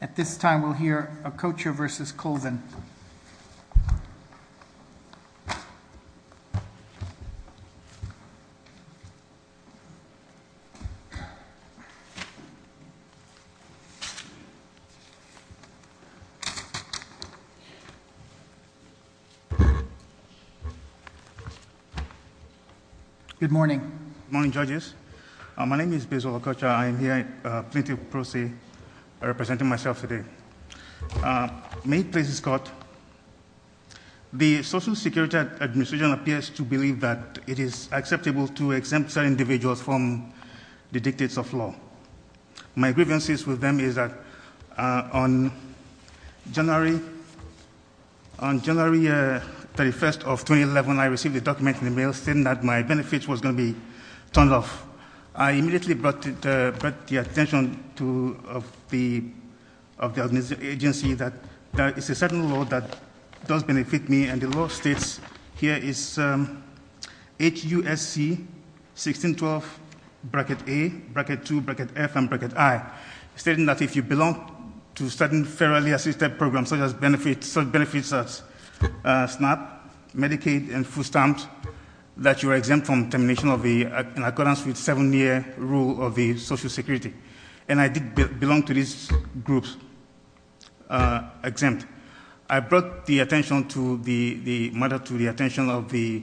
At this time we'll hear Okocha versus Colvin. Good morning. Good morning judges. My name is Bezo Okocha. I am here at Plaintiff's Proceeds representing myself today. May it please the court. The Social Security Administration appears to believe that it is acceptable to exempt certain individuals from the dictates of law. My grievances with them is that on January 31st of 2011 I received a document in the I immediately brought the attention of the agency that there is a certain law that does benefit me and the law states here is HUSC 1612 bracket A, bracket 2, bracket F, and bracket I stating that if you belong to certain fairly assisted programs such as benefits such as SNAP, Medicaid, and food stamps that you are exempt from termination in accordance with seven-year rule of the Social Security. And I did belong to these groups exempt. I brought the matter to the attention of the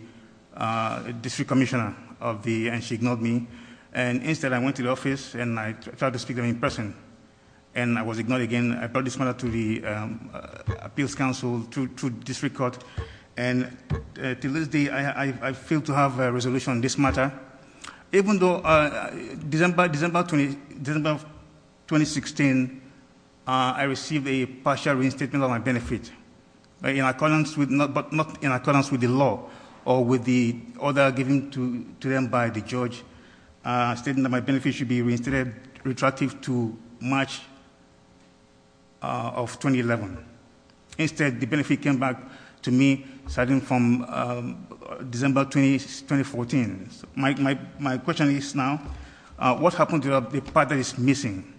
district commissioner and she ignored me. And instead I went to the office and I tried to speak to her in person and I was ignored again. And I brought this matter to the appeals council, to district court, and to this day I fail to have a resolution on this matter. Even though December 2016 I received a partial reinstatement on my benefit, but not in accordance with the law or with the order given to them by the judge stating that my benefit should be retracted to March of 2011. Instead the benefit came back to me starting from December 2014. My question is now, what happened to the part that is missing?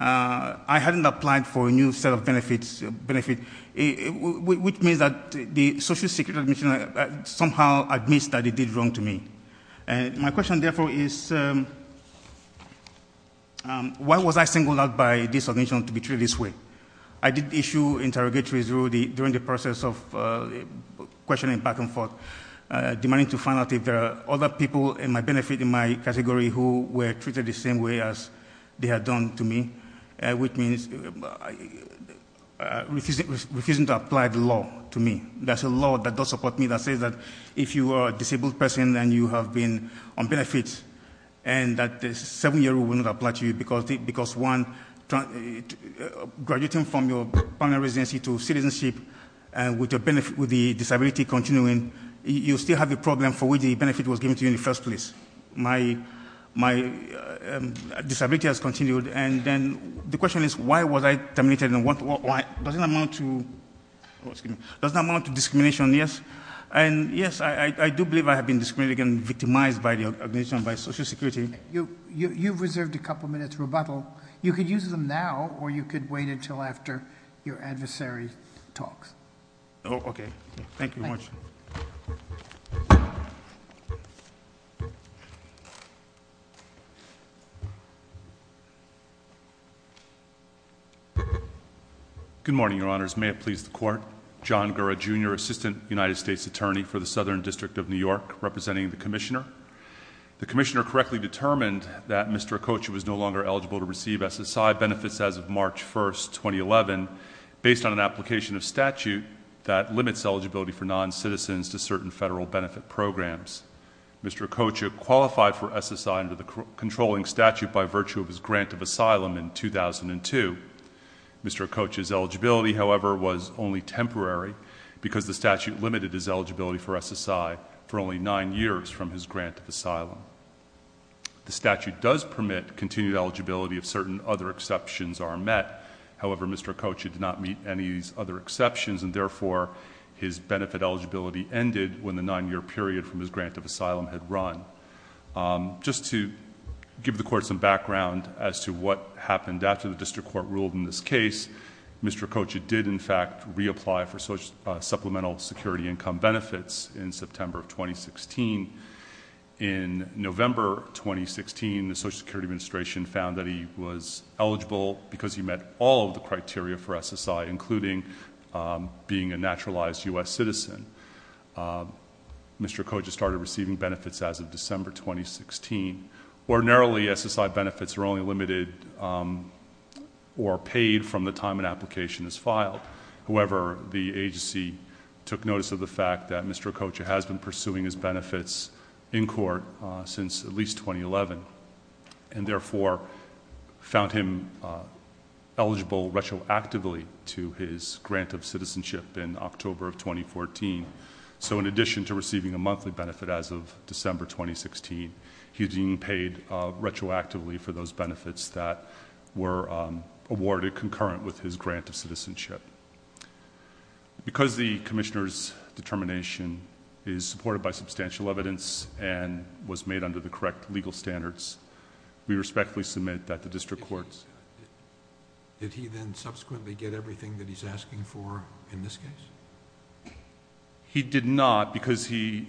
I hadn't applied for a new set of benefits, which means that the Social Security Commissioner somehow admits that it did wrong to me. My question therefore is, why was I singled out by this submission to be treated this way? I did issue interrogatories during the process of questioning back and forth, demanding to find out if there are other people in my benefit, in my category, who were treated the same way as they had done to me, which means refusing to apply the law to me. That's a law that does support me that says that if you are a disabled person and you have been on benefits and that the seven-year rule will not apply to you because, one, graduating from your permanent residency to citizenship with the disability continuing, you still have the problem for which the benefit was given to you in the first place. My disability has continued and then the question is, why was I terminated and does it amount to discrimination, yes? And yes, I do believe I have been discriminated against and victimized by the organization, by Social Security. You've reserved a couple of minutes for rebuttal. You could use them now or you could wait until after your adversary talks. Okay. Thank you very much. Good morning, Your Honors. May it please the Court. John Gurra, Jr., Assistant United States Attorney for the Southern District of New York, representing the Commissioner. The Commissioner correctly determined that Mr. Okocha was no longer eligible to receive SSI benefits as of March 1st, 2011, based on an application of statute that limits eligibility for non-citizens to certain federal benefit programs. Mr. Okocha qualified for SSI under the controlling statute by virtue of his grant of asylum in 2002. Mr. Okocha's eligibility, however, was only temporary because the statute limited his eligibility for SSI for only nine years from his grant of asylum. The statute does permit continued eligibility if certain other exceptions are met. However, Mr. Okocha did not meet any of these other exceptions and therefore his benefit eligibility ended when the nine-year period from his grant of asylum had run. Just to give the Court some background as to what happened after the District Court ruled in this case, Mr. Okocha did, in fact, reapply for supplemental security income benefits in September of 2016. In November 2016, the Social Security Administration found that he was eligible because he met all of the criteria for SSI, including being a naturalized U.S. citizen. Mr. Okocha started receiving benefits as of December 2016. Ordinarily, SSI benefits are only limited or paid from the time an application is filed. However, the agency took notice of the fact that Mr. Okocha has been pursuing his benefits in court since at least 2011 and therefore found him eligible retroactively to his grant of citizenship in October of 2014. In addition to receiving a monthly benefit as of December 2016, he's being paid retroactively for those benefits that were awarded concurrent with his grant of citizenship. Because the Commissioner's determination is supported by substantial evidence and was made under the correct legal standards, we respectfully submit that the District Court's... in this case? He did not because he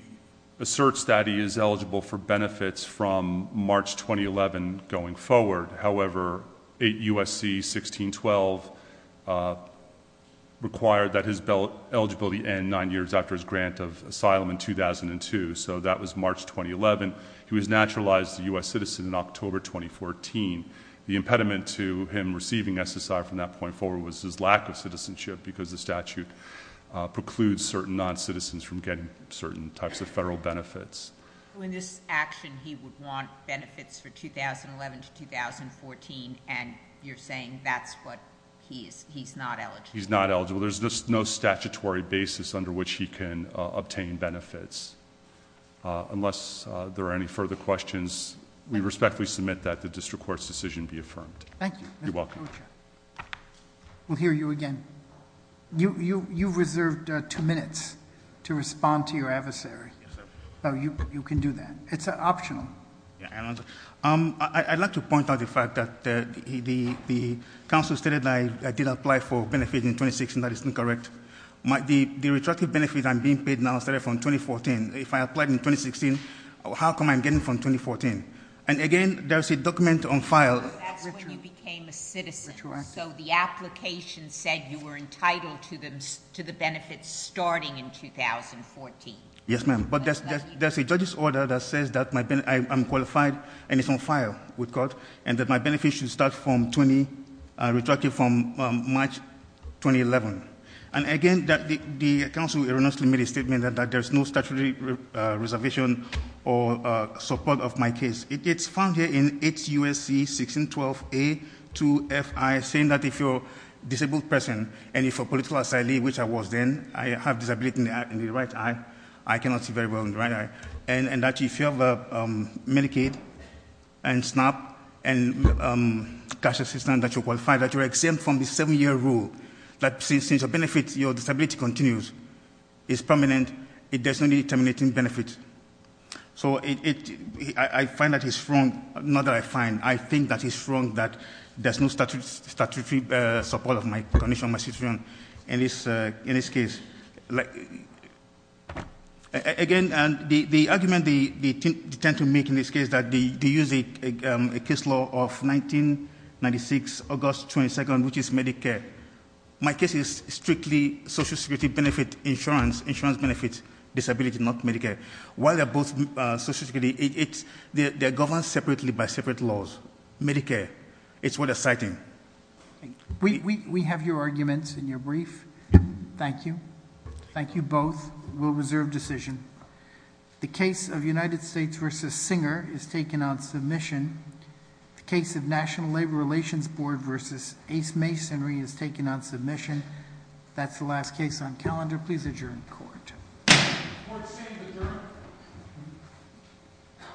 asserts that he is eligible for benefits from March 2011 going forward. However, 8 U.S.C. 1612 required that his eligibility end nine years after his grant of asylum in 2002. So that was March 2011. He was a naturalized U.S. citizen in October 2014. The impediment to him receiving SSI from that point forward was his lack of citizenship because the statute precludes certain non-citizens from getting certain types of federal benefits. In this action, he would want benefits for 2011 to 2014 and you're saying that's what... he's not eligible? He's not eligible. There's no statutory basis under which he can obtain benefits. Unless there are any further questions, we respectfully submit that the District Court's decision be affirmed. Thank you. You're welcome. We'll hear you again. You reserved two minutes to respond to your adversary. You can do that. It's optional. I'd like to point out the fact that the counsel stated that I did apply for benefits in 2016. That is incorrect. The retracted benefits I'm being paid now started from 2014. If I applied in 2016, how come I'm getting from 2014? And again, there's a document on file... No, that's when you became a citizen, so the application said you were entitled to the benefits starting in 2014. Yes, ma'am, but there's a judge's order that says that I'm qualified and it's on file with court and that my benefits should start from 20... retracted from March 2011. And again, the counsel erroneously made a statement that there's no statutory reservation or support of my case. It's found here in HUSC 1612A2FI saying that if you're a disabled person and if a political asylee, which I was then, I have a disability in the right eye. I cannot see very well in the right eye. And that if you have Medicaid and SNAP and cash assistance that you're qualified, that you're exempt from the seven-year rule, that since your benefits, your disability continues, is permanent, there's no need to terminate benefits. So, I find that he's wrong... not that I find... I think that he's wrong that there's no statutory support of my condition, my citizenship in this case. Again, the argument they tend to make in this case is that they use a case law of 1996, August 22nd, which is Medicare. My case is strictly Social Security benefit insurance, insurance benefit disability, not Medicare. While they're both Social Security, it's... they're governed separately by separate laws. Medicare. It's what they're citing. We have your arguments in your brief. Thank you. Thank you both. We'll reserve decision. The case of United States v. Singer is taken on submission. The case of National Labor Relations Board v. Ace Masonry is taken on submission. That's the last case on calendar. Please adjourn the court. Thank you.